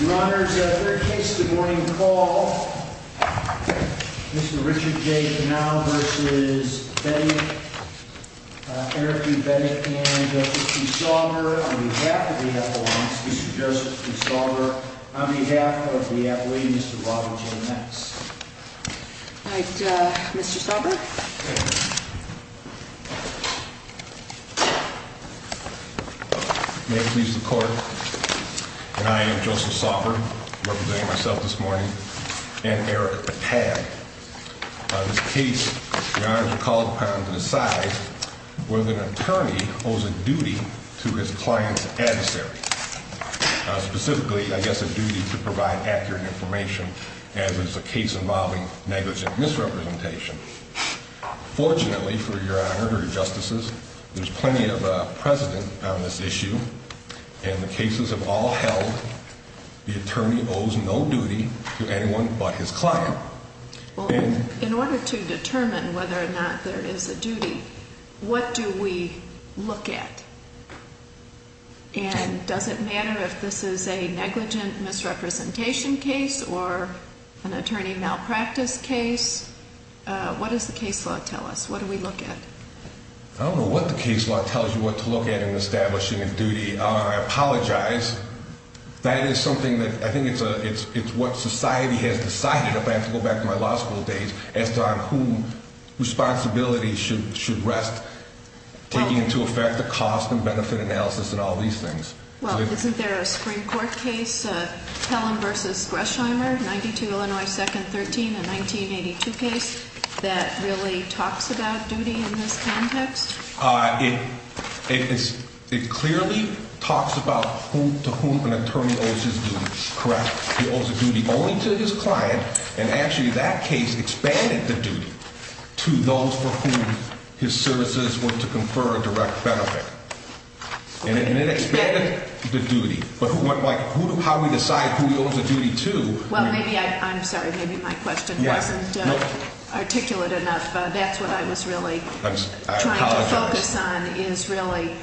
Your Honor, third case of the morning call, Mr. Richard J. Donow v. Bettig, Eric E. Bettig, and Joseph P. Sauber on behalf of the appellant, Mr. Joseph P. Sauber, on behalf of the appellant, Mr. Robin J. Metz. All right, Mr. Sauber. May it please the court, and I am Joseph Sauber, representing myself this morning, and Eric Pag. On this case, Your Honor, the call of the appellant to decide whether an attorney owes a duty to his client's adversary. Specifically, I guess, a duty to provide accurate information, as is the case involving negligent misrepresentation. Fortunately, for Your Honor, Your Justices, there's plenty of precedent on this issue, and the cases have all held the attorney owes no duty to anyone but his client. In order to determine whether or not there is a duty, what do we look at? And does it matter if this is a negligent misrepresentation case or an attorney malpractice case? What does the case law tell us? What do we look at? I don't know what the case law tells you what to look at in establishing a duty. I apologize. That is something that I think it's what society has decided, if I have to go back to my law school days, as to on whose responsibility should rest taking into effect the cost and benefit analysis and all these things. Well, isn't there a Supreme Court case, Helen v. Greshammer, 92 Illinois 2nd 13, a 1982 case, that really talks about duty in this context? It clearly talks about to whom an attorney owes his duty. Correct? He owes a duty only to his client, and actually that case expanded the duty to those for whom his services were to confer a direct benefit. And it expanded the duty. But how do we decide who he owes the duty to? Well, maybe I'm sorry. Maybe my question wasn't articulate enough. That's what I was really trying to focus on is really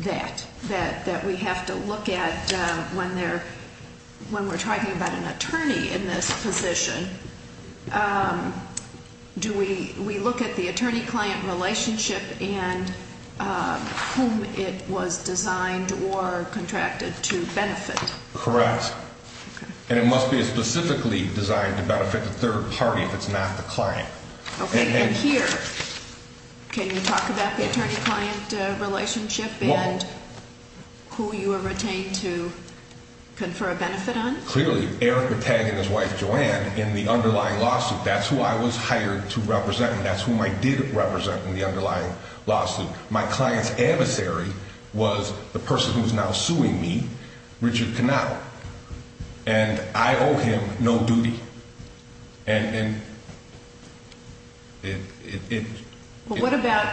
that, that we have to look at when we're talking about an attorney in this position. Do we look at the attorney-client relationship and whom it was designed or contracted to benefit? Correct. And it must be specifically designed to benefit the third party if it's not the client. Okay. And here, can you talk about the attorney-client relationship and who you were retained to confer a benefit on? Clearly, Eric Batang and his wife, Joanne, in the underlying lawsuit. That's who I was hired to represent, and that's whom I did represent in the underlying lawsuit. My client's adversary was the person who is now suing me, Richard Knaut. And I owe him no duty. And it- Well, what about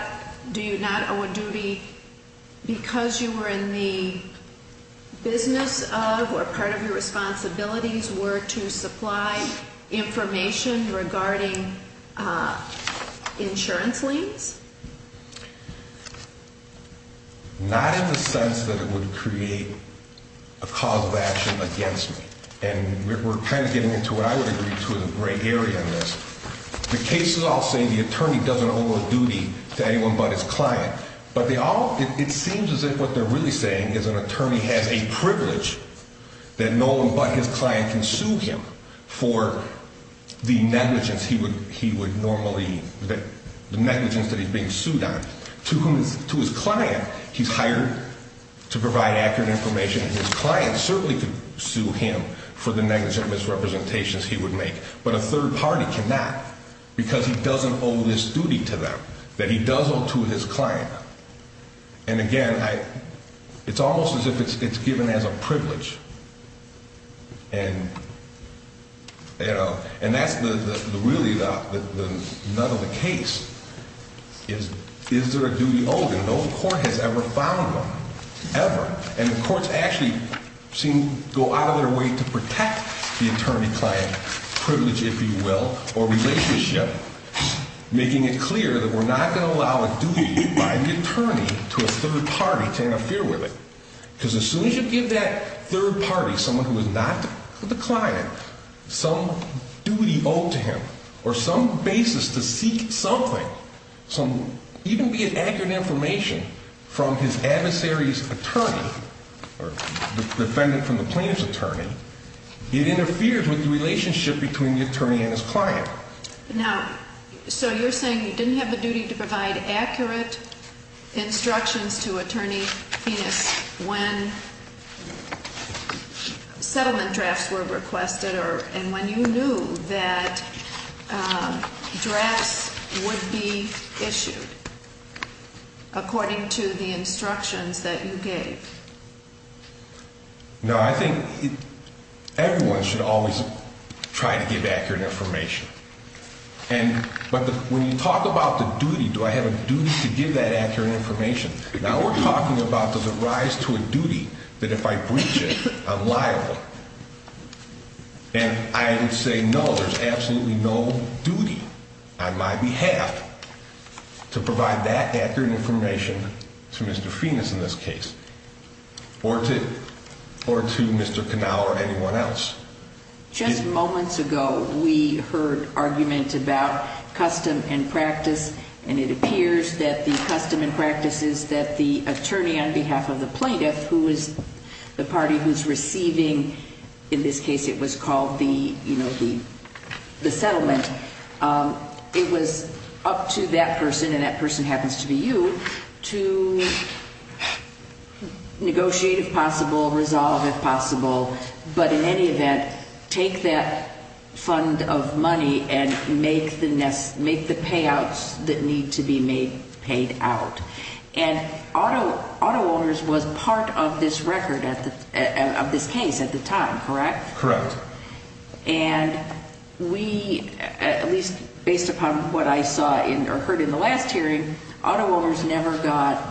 do you not owe a duty because you were in the business of or part of your responsibilities were to supply information regarding insurance liens? Not in the sense that it would create a cause of action against me. And we're kind of getting into what I would agree to in a great area in this. The case is all saying the attorney doesn't owe a duty to anyone but his client. But they all- it seems as if what they're really saying is an attorney has a privilege that no one but his client can sue him for the negligence he would normally- the negligence that he's being sued on. To his client, he's hired to provide accurate information, and his client certainly could sue him for the negligent misrepresentations he would make. But a third party cannot because he doesn't owe this duty to them that he does owe to his client. And, again, I- it's almost as if it's given as a privilege. And, you know, and that's really the- none of the case is, is there a duty owed? And no court has ever found one, ever. And the courts actually seem to go out of their way to protect the attorney-client privilege, if you will, or relationship, making it clear that we're not going to allow a duty by the attorney to a third party to interfere with it. Because as soon as you give that third party, someone who is not the client, some duty owed to him or some basis to seek something, some- even be it accurate information from his adversary's attorney or defendant from the plaintiff's attorney, it interferes with the relationship between the attorney and his client. Now, so you're saying you didn't have the duty to provide accurate instructions to Attorney Penas when settlement drafts were requested or- and when you knew that drafts would be issued according to the instructions that you gave. No, I think everyone should always try to give accurate information. And- but when you talk about the duty, do I have a duty to give that accurate information? Now we're talking about the rise to a duty that if I breach it, I'm liable. And I would say no, there's absolutely no duty on my behalf to provide that accurate information to Mr. Penas in this case. Or to- or to Mr. Connell or anyone else. Just moments ago, we heard argument about custom and practice. And it appears that the custom and practice is that the attorney on behalf of the plaintiff, who is the party who's receiving- in this case, it was called the, you know, the settlement. It was up to that person, and that person happens to be you, to negotiate if possible, resolve if possible. But in any event, take that fund of money and make the payouts that need to be made paid out. And auto owners was part of this record at the- of this case at the time, correct? Correct. And we, at least based upon what I saw in- or heard in the last hearing, auto owners never got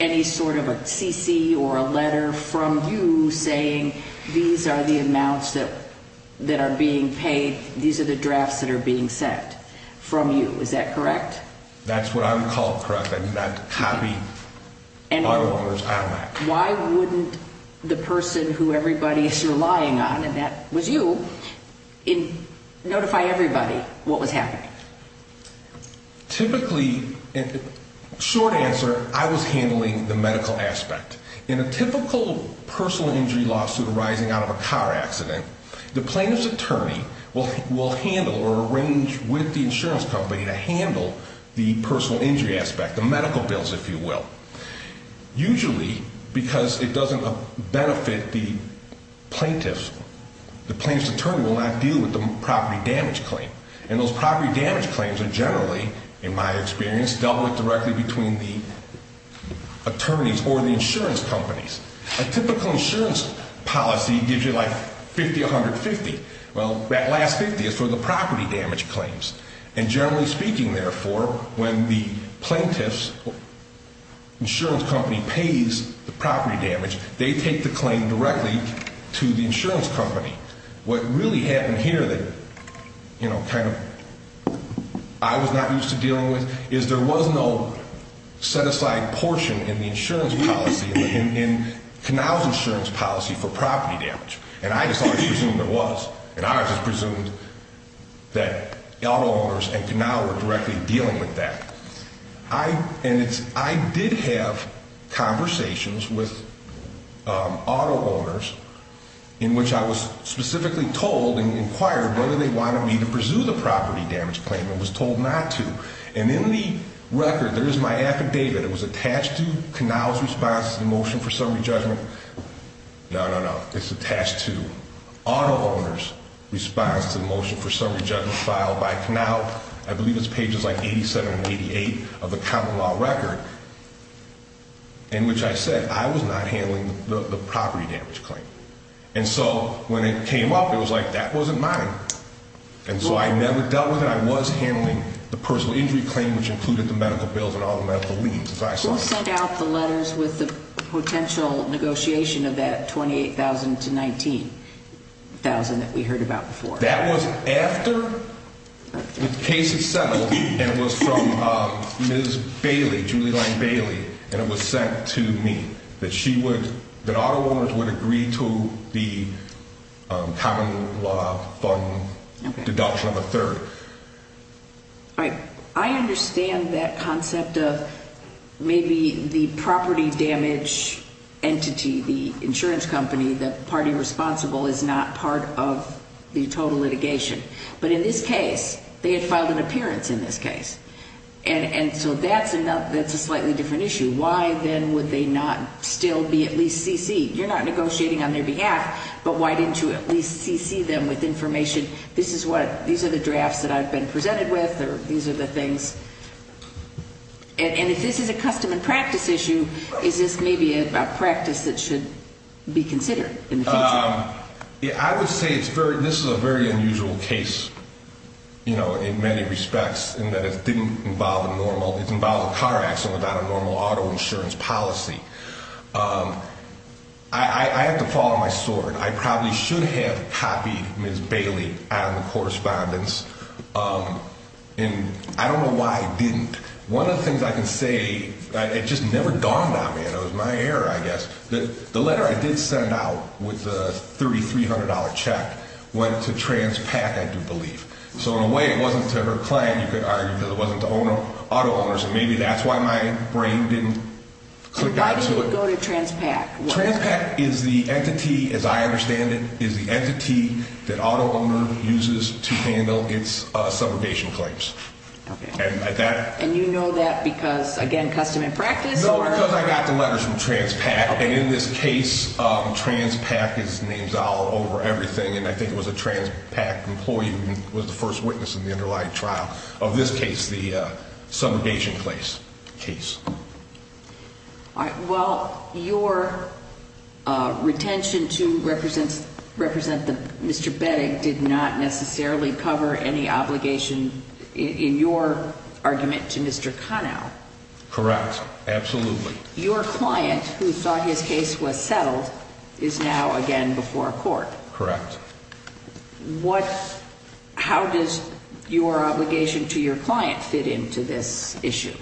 any sort of a CC or a letter from you saying these are the amounts that are being paid. These are the drafts that are being sent from you. Is that correct? That's what I would call correct. I do not copy auto owners out of that. Why wouldn't the person who everybody is relying on, and that was you, notify everybody what was happening? Typically, short answer, I was handling the medical aspect. In a typical personal injury lawsuit arising out of a car accident, the plaintiff's attorney will handle or arrange with the insurance company to handle the personal injury aspect, the medical bills, if you will. Usually, because it doesn't benefit the plaintiff, the plaintiff's attorney will not deal with the property damage claim. And those property damage claims are generally, in my experience, dealt with directly between the attorneys or the insurance companies. A typical insurance policy gives you like 50-150. Well, that last 50 is for the property damage claims. And generally speaking, therefore, when the plaintiff's insurance company pays the property damage, they take the claim directly to the insurance company. What really happened here that, you know, kind of I was not used to dealing with is there was no set-aside portion in the insurance policy, in Kanawha's insurance policy for property damage. And I presumed there was. And I just presumed that auto owners and Kanawha were directly dealing with that. And I did have conversations with auto owners in which I was specifically told and inquired whether they wanted me to pursue the property damage claim. I was told not to. And in the record, there is my affidavit. It was attached to Kanawha's response to the motion for summary judgment. No, no, no. It's attached to auto owners' response to the motion for summary judgment filed by Kanawha. I believe it's pages like 87 and 88 of the common law record in which I said I was not handling the property damage claim. And so when it came up, it was like that wasn't mine. And so I never dealt with it. I was handling the personal injury claim, which included the medical bills and all the medical leave, as I saw it. You also sent out the letters with the potential negotiation of that $28,000 to $19,000 that we heard about before. That was after the case had settled. It was from Ms. Bailey, Julie Lane Bailey. And it was sent to me that she would, that auto owners would agree to the common law fund deduction of a third. All right. I understand that concept of maybe the property damage entity, the insurance company, the party responsible, is not part of the total litigation. But in this case, they had filed an appearance in this case. And so that's a slightly different issue. Why, then, would they not still be at least CC? You're not negotiating on their behalf, but why didn't you at least CC them with information? This is what, these are the drafts that I've been presented with, or these are the things. And if this is a custom and practice issue, is this maybe a practice that should be considered in the future? I would say it's very, this is a very unusual case, you know, in many respects, in that it didn't involve a normal, it involved a car accident without a normal auto insurance policy. I have to follow my sword. I probably should have copied Ms. Bailey out of the correspondence, and I don't know why I didn't. One of the things I can say, it just never dawned on me, and it was my error, I guess, that the letter I did send out with the $3,300 check went to TransPAC, I do believe. So in a way, it wasn't to her client. You could argue that it wasn't to auto owners, and maybe that's why my brain didn't click back to it. And why did it go to TransPAC? TransPAC is the entity, as I understand it, is the entity that auto owner uses to handle its subrogation claims. And you know that because, again, custom and practice? No, because I got the letters from TransPAC, and in this case, TransPAC is names all over everything, and I think it was a TransPAC employee who was the first witness in the underlying trial of this case, the subrogation case. All right. Well, your retention to represent Mr. Bettig did not necessarily cover any obligation in your argument to Mr. Conow. Correct. Absolutely. Your client, who thought his case was settled, is now again before court. Correct. How does your obligation to your client fit into this issue?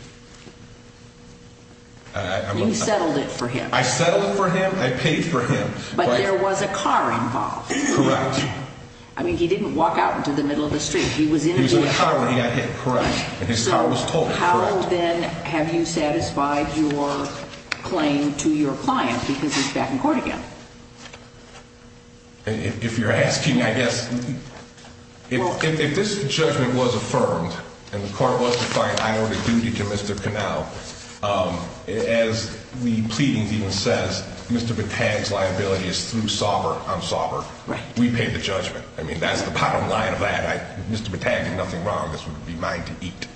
You settled it for him. I settled it for him. I paid for him. But there was a car involved. Correct. I mean, he didn't walk out into the middle of the street. He was in the car when he got hit. Correct. And his car was towed. Correct. So how, then, have you satisfied your claim to your client because he's back in court again? If you're asking, I guess, if this judgment was affirmed and the court was to find an inordinate duty to Mr. Conow, as the pleadings even says, Mr. Bettig's liability is through Sauber on Sauber. Right. We paid the judgment. I mean, that's the bottom line of that. Mr. Bettig did nothing wrong. This would be mine to eat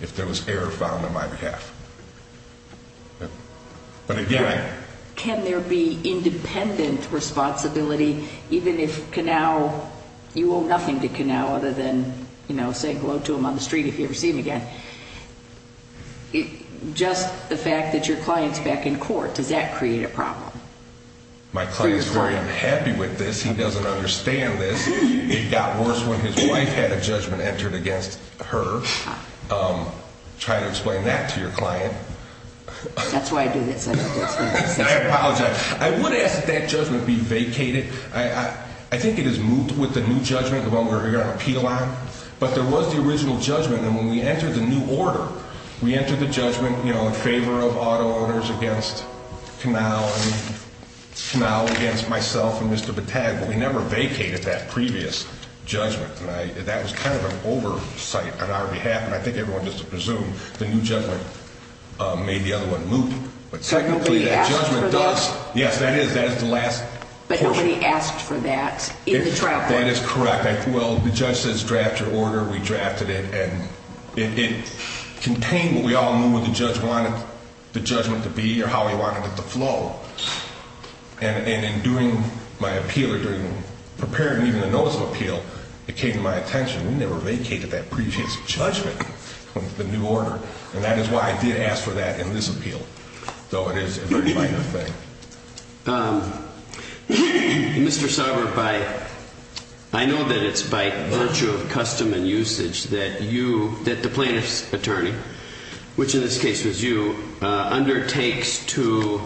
if there was error found on my behalf. But, again, I Can there be independent responsibility even if Conow, you owe nothing to Conow other than, you know, say hello to him on the street if you ever see him again? Just the fact that your client's back in court, does that create a problem? My client is very unhappy with this. He doesn't understand this. It got worse when his wife had a judgment entered against her. Try to explain that to your client. That's why I do this. I apologize. I would ask that that judgment be vacated. I think it is moved with the new judgment, the one we're going to appeal on. But there was the original judgment, and when we entered the new order, we entered the judgment, you know, in favor of auto owners against Conow and Conow against myself and Mr. Bettig. But we never vacated that previous judgment. And that was kind of an oversight on our behalf. And I think everyone just presumed the new judgment made the other one move. But, technically, that judgment does. Yes, that is. That is the last portion. But nobody asked for that in the trial court. That is correct. Well, the judge says draft your order. We drafted it. And it contained what we all knew what the judge wanted the judgment to be or how he wanted it to flow. And in doing my appeal or preparing even a notice of appeal, it came to my attention, we never vacated that previous judgment of the new order. And that is why I did ask for that in this appeal. So it is a very minor thing. Mr. Sauber, I know that it is by virtue of custom and usage that you, that the plaintiff's attorney, which in this case was you, undertakes to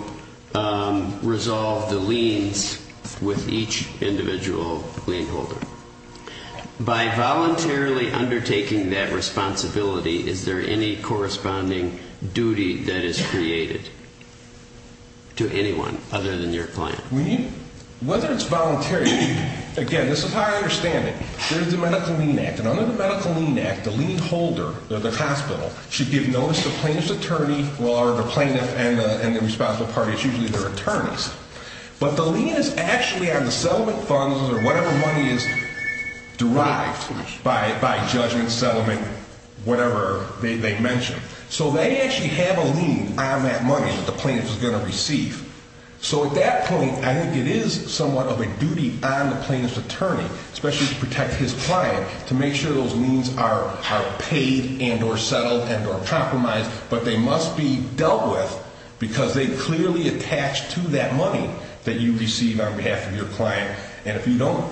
resolve the liens with each individual lien holder. By voluntarily undertaking that responsibility, is there any corresponding duty that is created to anyone other than your client? Whether it is voluntary, again, this is how I understand it. There is the Medical Lien Act. And under the Medical Lien Act, the lien holder or the hospital should give notice to the plaintiff's attorney or the plaintiff and the responsible parties, usually their attorneys. But the lien is actually on the settlement funds or whatever money is derived by judgment, settlement, whatever they mention. So they actually have a lien on that money that the plaintiff is going to receive. So at that point, I think it is somewhat of a duty on the plaintiff's attorney, especially to protect his client, to make sure those liens are paid and or settled and or compromised. But they must be dealt with because they clearly attach to that money that you receive on behalf of your client. And if you don't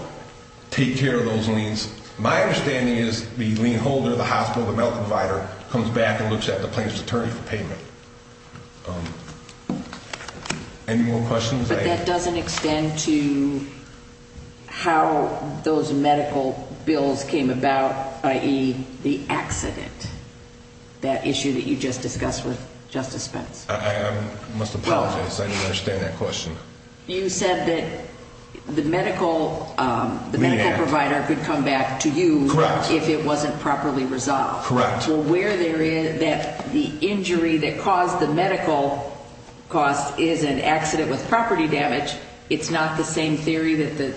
take care of those liens, my understanding is the lien holder, the hospital, the medical provider, comes back and looks at the plaintiff's attorney for payment. Any more questions? But that doesn't extend to how those medical bills came about, i.e., the accident, that issue that you just discussed with Justice Spence. I must apologize. I didn't understand that question. You said that the medical provider could come back to you if it wasn't properly resolved. Correct. Well, where there is that the injury that caused the medical cost is an accident with property damage, it's not the same theory that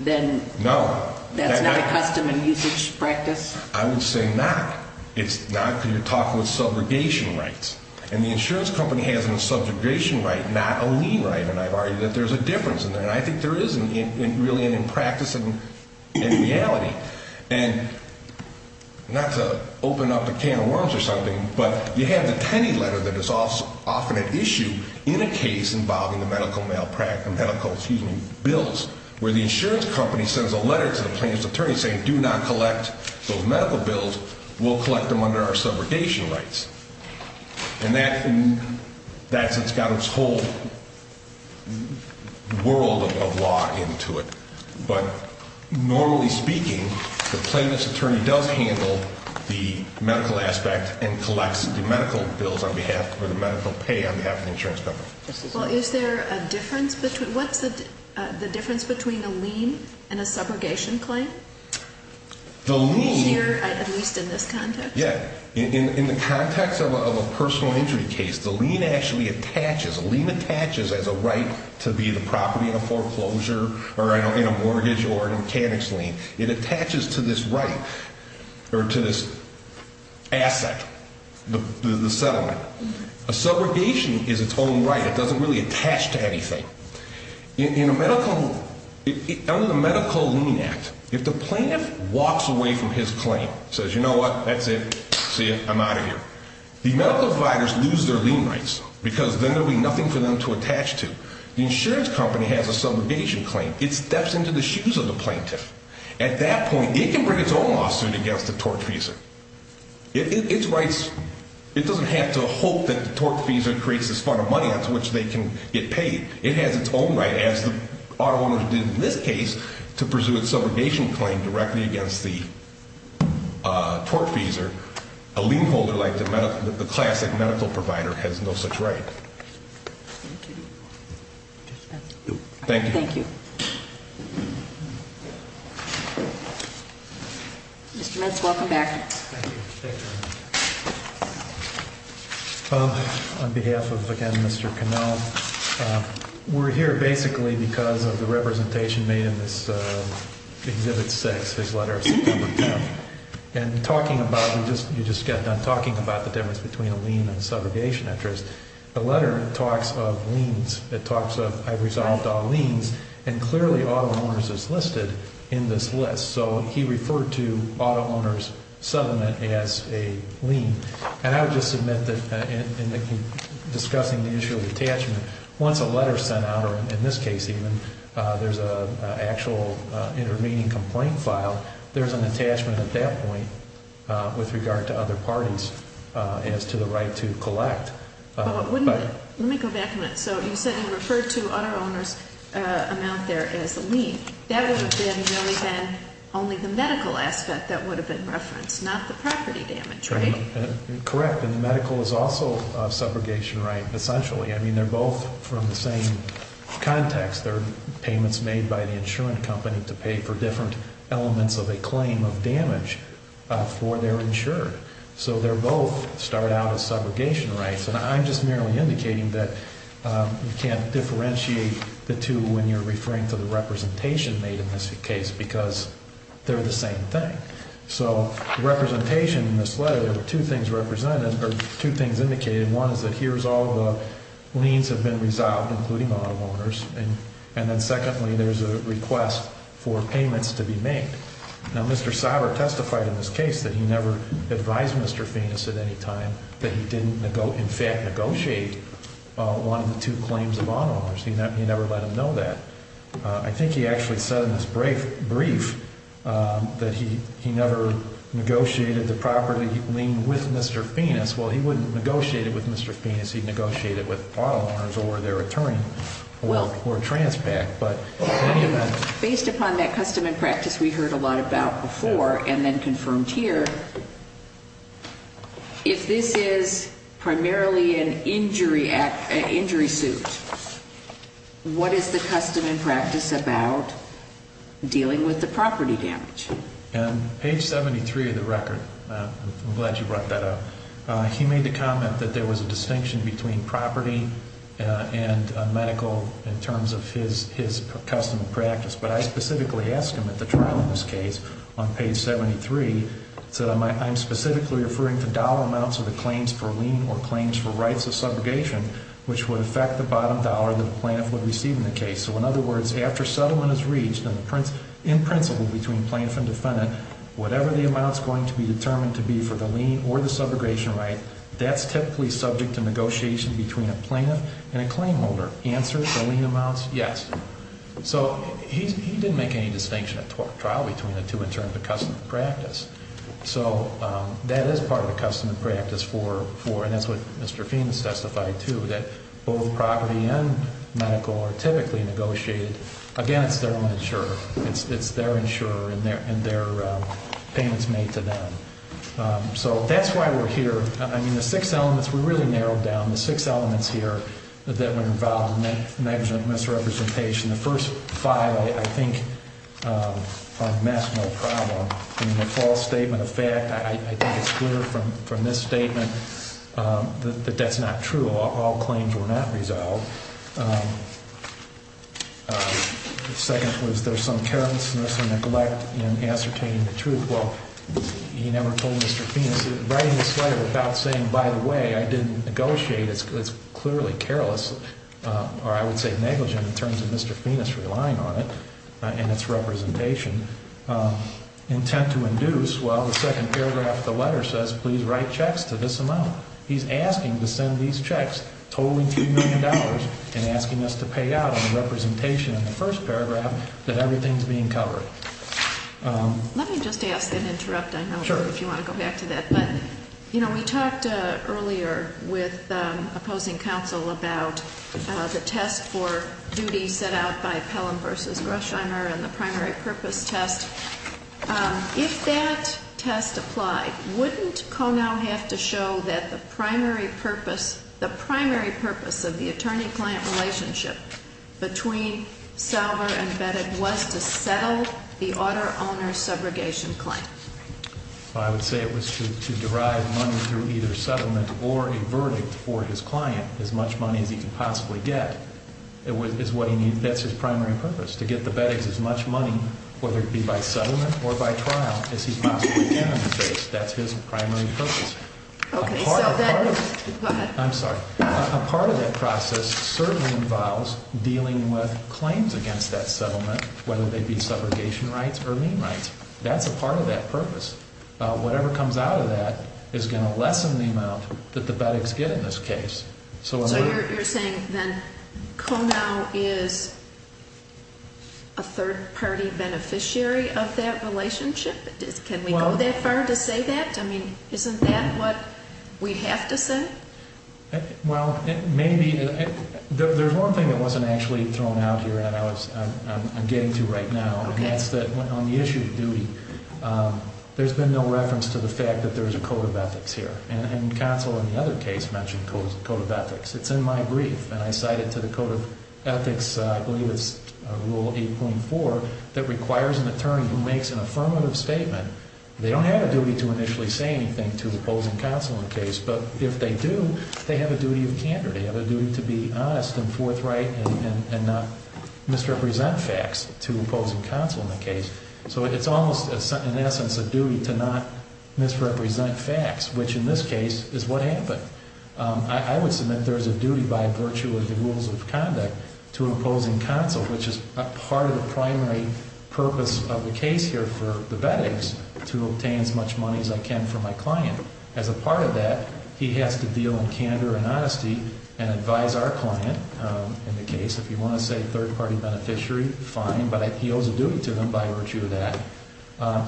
then that's not a custom and usage practice? I would say not. It's not because you're talking with subrogation rights. And the insurance company has a subrogation right, not a lien right. And I've argued that there's a difference in there. And I think there is really in practice and in reality. And not to open up a can of worms or something, but you have the Tenney letter that is often at issue in a case involving the medical bills, where the insurance company sends a letter to the plaintiff's attorney saying, do not collect those medical bills. We'll collect them under our subrogation rights. And that's got its whole world of law into it. But normally speaking, the plaintiff's attorney does handle the medical aspect and collects the medical bills on behalf or the medical pay on behalf of the insurance company. Well, is there a difference between a lien and a subrogation claim? Here, at least in this context? Yeah. In the context of a personal injury case, the lien actually attaches. A lien attaches as a right to be the property in a foreclosure or in a mortgage or mechanics lien. It attaches to this right or to this asset, the settlement. A subrogation is its own right. It doesn't really attach to anything. Under the Medical Lien Act, if the plaintiff walks away from his claim, says, you know what, that's it, see you, I'm out of here, the medical providers lose their lien rights because then there will be nothing for them to attach to. The insurance company has a subrogation claim. It steps into the shoes of the plaintiff. At that point, it can bring its own lawsuit against the tort reason. Its rights, it doesn't have to hope that the tort reason creates this fund of money onto which they can get paid. It has its own right, as the auto owners did in this case, to pursue a subrogation claim directly against the tort reason. A lien holder like the classic medical provider has no such right. Thank you. Thank you. Thank you. Mr. Metz, welcome back. Thank you. Thank you. On behalf of, again, Mr. Cannell, we're here basically because of the representation made in this Exhibit 6, this letter of September 10th. And talking about, you just got done talking about the difference between a lien and a subrogation interest. The letter talks of liens. It talks of, I resolved all liens, and clearly auto owners is listed in this list. So he referred to auto owners' settlement as a lien. And I would just submit that in discussing the issue of attachment, once a letter is sent out, or in this case even, there's an actual intervening complaint file, there's an attachment at that point with regard to other parties as to the right to collect. Let me go back a minute. So you said you referred to auto owners' amount there as a lien. That would have really been only the medical aspect that would have been referenced, not the property damage, right? Correct. And the medical is also a subrogation right, essentially. I mean, they're both from the same context. They're payments made by the insurance company to pay for different elements of a claim of damage for their insurer. So they're both start out as subrogation rights. And I'm just merely indicating that you can't differentiate the two when you're referring to the representation made in this case because they're the same thing. So representation in this letter, there were two things represented, or two things indicated. One is that here's all the liens have been resolved, including auto owners. And then secondly, there's a request for payments to be made. Now, Mr. Sauber testified in this case that he never advised Mr. Feenis at any time that he didn't in fact negotiate one of the two claims of auto owners. He never let him know that. I think he actually said in his brief that he never negotiated the property lien with Mr. Feenis. Well, he wouldn't negotiate it with Mr. Feenis. He'd negotiate it with auto owners or their attorney or Transpac. Based upon that custom and practice we heard a lot about before and then confirmed here, if this is primarily an injury suit, what is the custom and practice about dealing with the property damage? On page 73 of the record, I'm glad you brought that up, he made the comment that there was a distinction between property and medical in terms of his custom and practice. But I specifically asked him at the trial in this case on page 73, I said I'm specifically referring to dollar amounts of the claims for lien or claims for rights of subrogation, which would affect the bottom dollar that the plaintiff would receive in the case. So in other words, after settlement is reached in principle between plaintiff and defendant, whatever the amount is going to be determined to be for the lien or the subrogation right, that's typically subject to negotiation between a plaintiff and a claim holder. Answer, the lien amounts, yes. So he didn't make any distinction at trial between the two in terms of custom and practice. So that is part of the custom and practice for, and that's what Mr. Feenis testified to, that both property and medical are typically negotiated against their insurer. It's their insurer and their payments made to them. So that's why we're here. I mean, the six elements, we really narrowed down the six elements here that were involved in the misrepresentation. The first five, I think, I've messed no problem. In the false statement of fact, I think it's clear from this statement that that's not true. All claims were not resolved. The second was there's some carelessness and neglect in ascertaining the truth. Well, he never told Mr. Feenis, writing this letter without saying, by the way, I didn't negotiate, it's clearly careless or I would say negligent in terms of Mr. Feenis relying on it and its representation. Intent to induce, well, the second paragraph of the letter says, please write checks to this amount. He's asking to send these checks, totaling $2 million, and asking us to pay out on the representation in the first paragraph that everything's being covered. Let me just ask and interrupt, I don't know if you want to go back to that. But we talked earlier with opposing counsel about the test for duty set out by Pelham versus Grushiner and the primary purpose test. If that test applied, wouldn't Konow have to show that the primary purpose, the primary purpose of the attorney-client relationship between Salver and Beddick was to settle the auto owner subrogation claim? I would say it was to derive money through either settlement or a verdict for his client, as much money as he could possibly get. That's his primary purpose, to get the Beddicks as much money, whether it be by settlement or by trial, as he possibly can in the case. That's his primary purpose. I'm sorry. A part of that process certainly involves dealing with claims against that settlement, whether they be subrogation rights or lien rights. That's a part of that purpose. Whatever comes out of that is going to lessen the amount that the Beddicks get in this case. So you're saying then Konow is a third-party beneficiary of that relationship? Can we go that far to say that? I mean, isn't that what we have to say? Well, maybe. There's one thing that wasn't actually thrown out here that I'm getting to right now, and that's that on the issue of duty, there's been no reference to the fact that there's a code of ethics here. And Konow, in the other case, mentioned a code of ethics. It's in my brief, and I cite it to the Code of Ethics, I believe it's Rule 8.4, that requires an attorney who makes an affirmative statement. They don't have a duty to initially say anything to oppose and counsel in the case, but if they do, they have a duty of candor. They have a duty to be honest and forthright and not misrepresent facts to oppose and counsel in the case. So it's almost, in essence, a duty to not misrepresent facts, which in this case is what happened. I would submit there's a duty by virtue of the rules of conduct to oppose and counsel, which is part of the primary purpose of the case here for the bettings, to obtain as much money as I can for my client. As a part of that, he has to deal in candor and honesty and advise our client in the case. If you want to say third-party beneficiary, fine, but he owes a duty to them by virtue of that,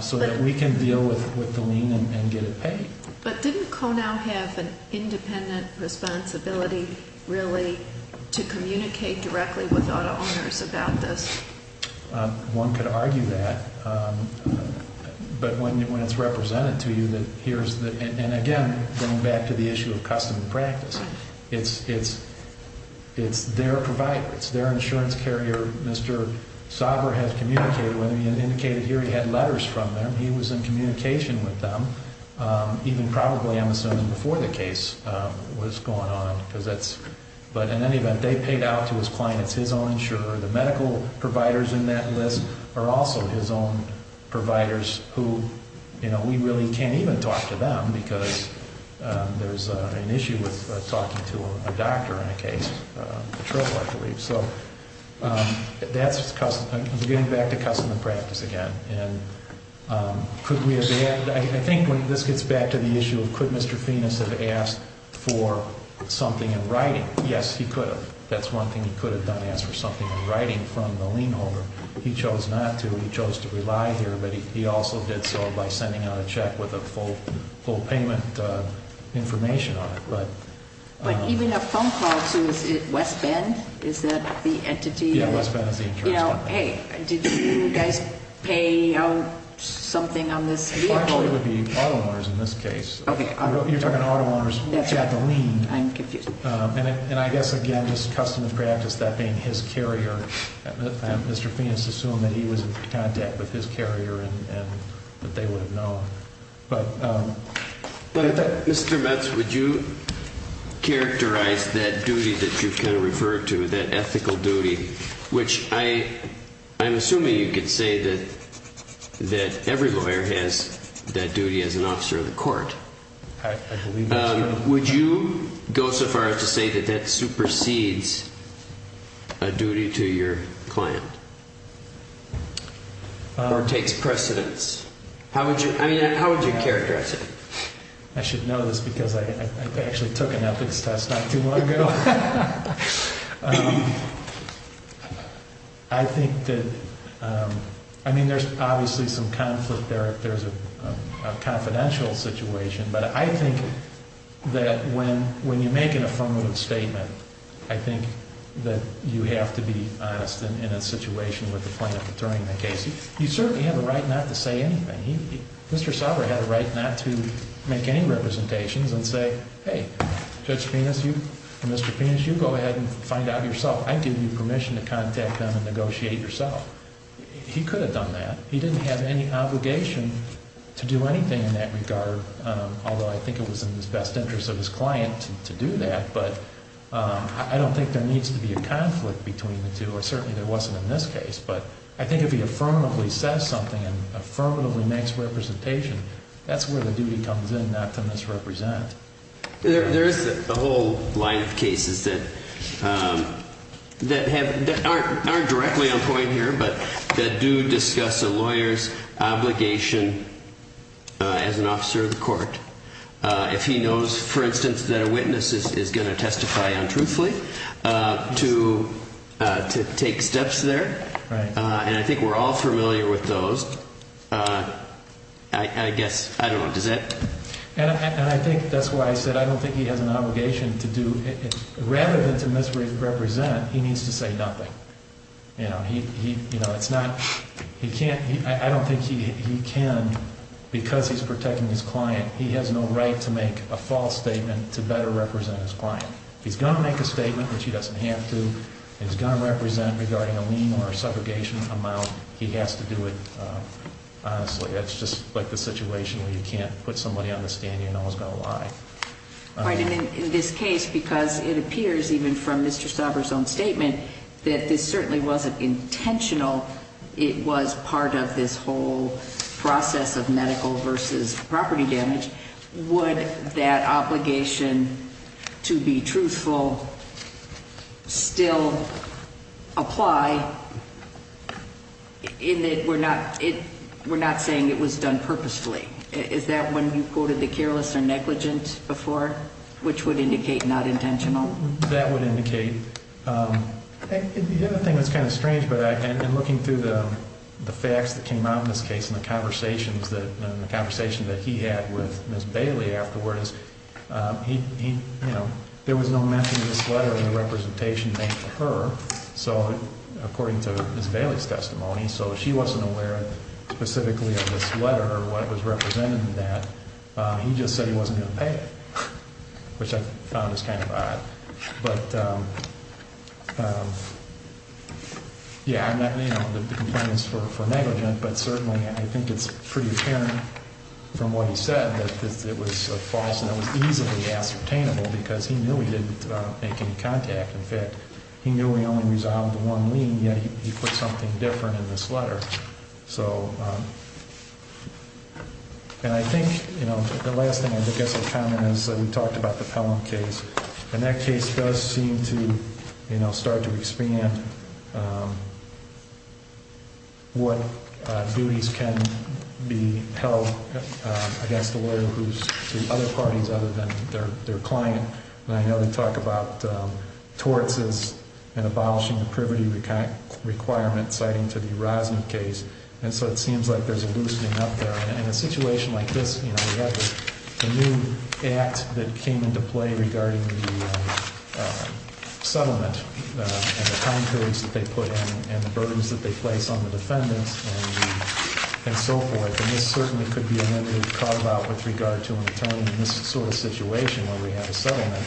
so that we can deal with the lien and get it paid. But didn't Konow have an independent responsibility, really, to communicate directly with auto owners about this? One could argue that, but when it's represented to you that here's the, and again, going back to the issue of custom and practice, it's their provider. It's their insurance carrier. Mr. Sauber has communicated with them. He had indicated here he had letters from them. He was in communication with them, even probably, I'm assuming, before the case was going on. But in any event, they paid out to his client. It's his own insurer. We really can't even talk to them because there's an issue with talking to a doctor in a case. The trouble, I believe. So that's custom. Getting back to custom and practice again, and could we have had, I think when this gets back to the issue of could Mr. Fiennes have asked for something in writing? Yes, he could have. That's one thing he could have done, ask for something in writing from the lien holder. He chose not to. He chose to rely here, but he also did so by sending out a check with a full payment information on it. But even a phone call to, is it West Bend? Is that the entity? Yeah, West Bend is the insurance company. Hey, did you guys pay out something on this vehicle? Well, actually, it would be auto owners in this case. Okay. You're talking auto owners. That's got the lien. I'm confused. And I guess, again, this custom of practice, that being his carrier, Mr. Fiennes assumed that he was in contact with his carrier and that they would have known. But I thought, Mr. Metz, would you characterize that duty that you kind of referred to, that ethical duty, which I'm assuming you could say that every lawyer has that duty as an officer of the court. I believe that's correct. Would you go so far as to say that that supersedes a duty to your client or takes precedence? How would you characterize it? I should know this because I actually took an ethics test not too long ago. I think that, I mean, there's obviously some conflict there. There's a confidential situation, but I think that when you make an affirmative statement, I think that you have to be honest in a situation with the plaintiff during the case. You certainly have a right not to say anything. Mr. Sauber had a right not to make any representations and say, Hey, Judge Fiennes, you and Mr. Fiennes, you go ahead and find out yourself. I give you permission to contact them and negotiate yourself. He could have done that. He didn't have any obligation to do anything in that regard, although I think it was in the best interest of his client to do that. But I don't think there needs to be a conflict between the two, or certainly there wasn't in this case. But I think if he affirmatively says something and affirmatively makes representation, that's where the duty comes in not to misrepresent. There's a whole line of cases that aren't directly on point here, but that do discuss a lawyer's obligation as an officer of the court. If he knows, for instance, that a witness is going to testify untruthfully, to take steps there. And I think we're all familiar with those. I guess, I don't know, does Ed? And I think that's why I said I don't think he has an obligation to do, rather than to misrepresent, he needs to say nothing. You know, it's not, he can't, I don't think he can, because he's protecting his client, he has no right to make a false statement to better represent his client. He's going to make a statement, which he doesn't have to. He's going to represent regarding a lien or a subrogation amount. He has to do it honestly. It's just like the situation where you can't put somebody on the stand, you know it's going to lie. Right, and in this case, because it appears even from Mr. Stauber's own statement, that this certainly wasn't intentional, it was part of this whole process of medical versus property damage. Would that obligation to be truthful still apply? In that we're not saying it was done purposefully. Is that when you quoted the careless or negligent before, which would indicate not intentional? That would indicate, the other thing that's kind of strange, but in looking through the facts that came out in this case, and the conversations that he had with Ms. Bailey afterwards, there was no mention of this letter in the representation made for her. So according to Ms. Bailey's testimony, so she wasn't aware specifically of this letter or what was represented in that. He just said he wasn't going to pay it, which I found was kind of odd. But yeah, I'm not, you know, the complaint is for negligent, but certainly I think it's pretty apparent from what he said that it was false, and it was easily ascertainable because he knew he didn't make any contact. In fact, he knew he only resolved one lien, yet he put something different in this letter. So, and I think, you know, the last thing I guess I'll comment is we talked about the Pelham case, and that case does seem to, you know, start to expand what duties can be held against a lawyer who's to other parties other than their client. And I know they talk about torts and abolishing the privity requirement citing to the Rosner case. And so it seems like there's a loosening up there. In a situation like this, you know, we have a new act that came into play regarding the settlement and the concurrence that they put in and the burdens that they place on the defendants and so forth. And this certainly could be a limit we've talked about with regard to an attorney in this sort of situation where we have a settlement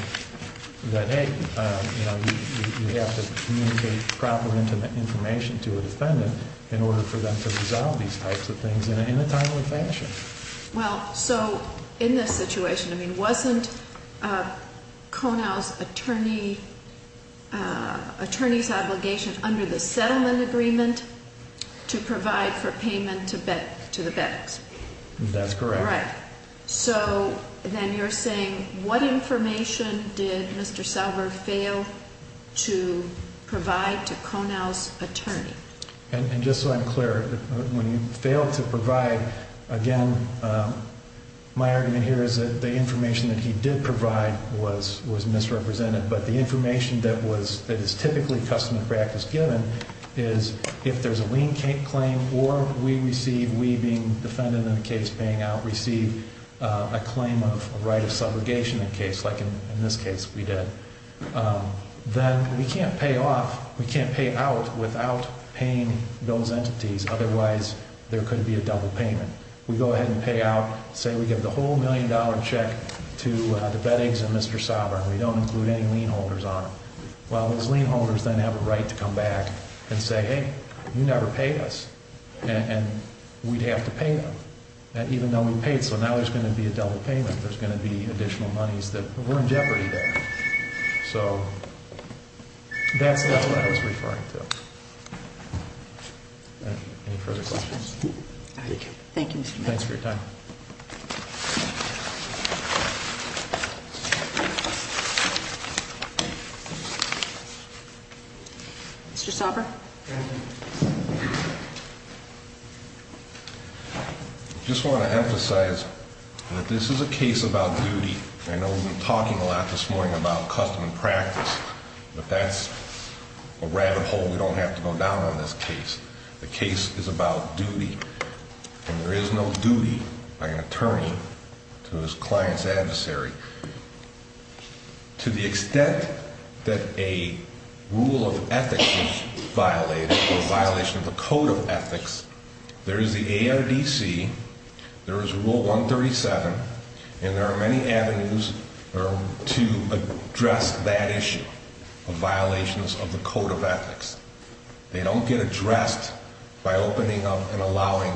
that, hey, you know, you have to communicate proper intimate information to a defendant in order for them to resolve these types of things in a timely fashion. Well, so in this situation, I mean, wasn't Konow's attorney's obligation under the settlement agreement to provide for payment to the beddocks? That's correct. All right. So then you're saying what information did Mr. Salver fail to provide to Konow's attorney? And just so I'm clear, when he failed to provide, again, my argument here is that the information that he did provide was misrepresented. But the information that is typically custom practice given is if there's a lien claim or we receive, we being defendant in a case paying out, receive a claim of right of subrogation in a case like in this case we did, then we can't pay off, we can't pay out without paying those entities. Otherwise, there could be a double payment. We go ahead and pay out. Say we give the whole million-dollar check to the beddocks and Mr. Salver. We don't include any lien holders on it. Well, those lien holders then have a right to come back and say, hey, you never paid us. And we'd have to pay them. And even though we paid, so now there's going to be a double payment. There's going to be additional monies that were in jeopardy there. So that's what I was referring to. Any further questions? Thank you. Thanks for your time. Mr. Salver. Just want to emphasize that this is a case about duty. I know we've been talking a lot this morning about custom practice, but that's a rabbit hole. We don't have to go down on this case. The case is about duty. And there is no duty by an attorney to his client's adversary. To the extent that a rule of ethics is violated or a violation of the code of ethics, there is the ARDC, there is Rule 137, and there are many avenues to address that issue of violations of the code of ethics. They don't get addressed by opening up and allowing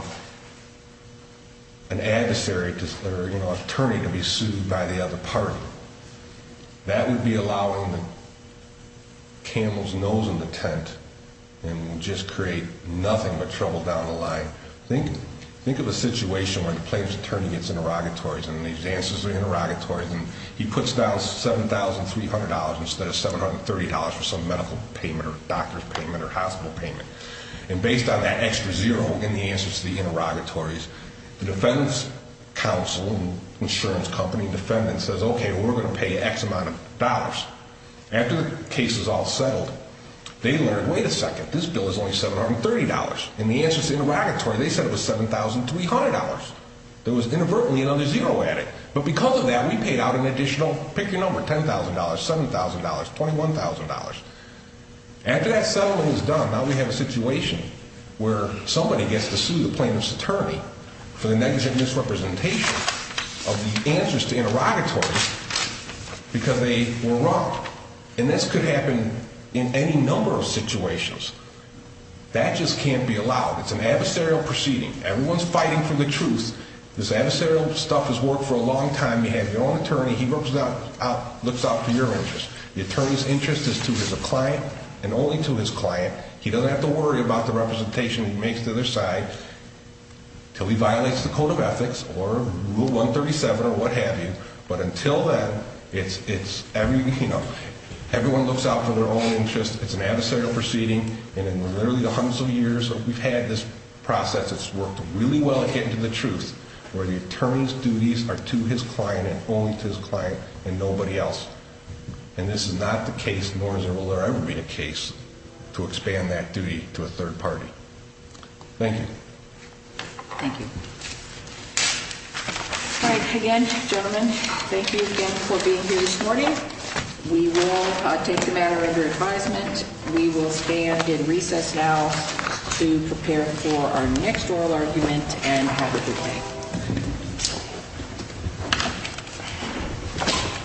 an adversary or an attorney to be sued by the other party. That would be allowing the camel's nose in the tent and just create nothing but trouble down the line. Think of a situation where the plaintiff's attorney gets interrogatories and these answers are interrogatories and he puts down $7,300 instead of $730 for some medical payment or doctor's payment or hospital payment. And based on that extra zero in the answers to the interrogatories, the defense counsel and insurance company defendant says, okay, we're going to pay X amount of dollars. After the case is all settled, they learn, wait a second, this bill is only $730. In the answers to the interrogatory, they said it was $7,300. There was inadvertently another zero added. But because of that, we paid out an additional, pick your number, $10,000, $7,000, $21,000. After that settlement is done, now we have a situation where somebody gets to sue the plaintiff's attorney for the negligent misrepresentation of the answers to interrogatories because they were wrong. And this could happen in any number of situations. That just can't be allowed. It's an adversarial proceeding. Everyone's fighting for the truth. This adversarial stuff has worked for a long time. You have your own attorney. He looks out for your interest. The attorney's interest is to his client and only to his client. He doesn't have to worry about the representation he makes to the other side until he violates the Code of Ethics or Rule 137 or what have you. But until then, it's, you know, everyone looks out for their own interest. It's an adversarial proceeding. And in literally the hundreds of years that we've had this process, it's worked really well at getting to the truth where the attorney's duties are to his client and only to his client and nobody else. And this is not the case, nor will there ever be a case, to expand that duty to a third party. Thank you. Thank you. All right, again, gentlemen, thank you again for being here this morning. We will take the matter under advisement. We will stand in recess now to prepare for our next oral argument and have a good day.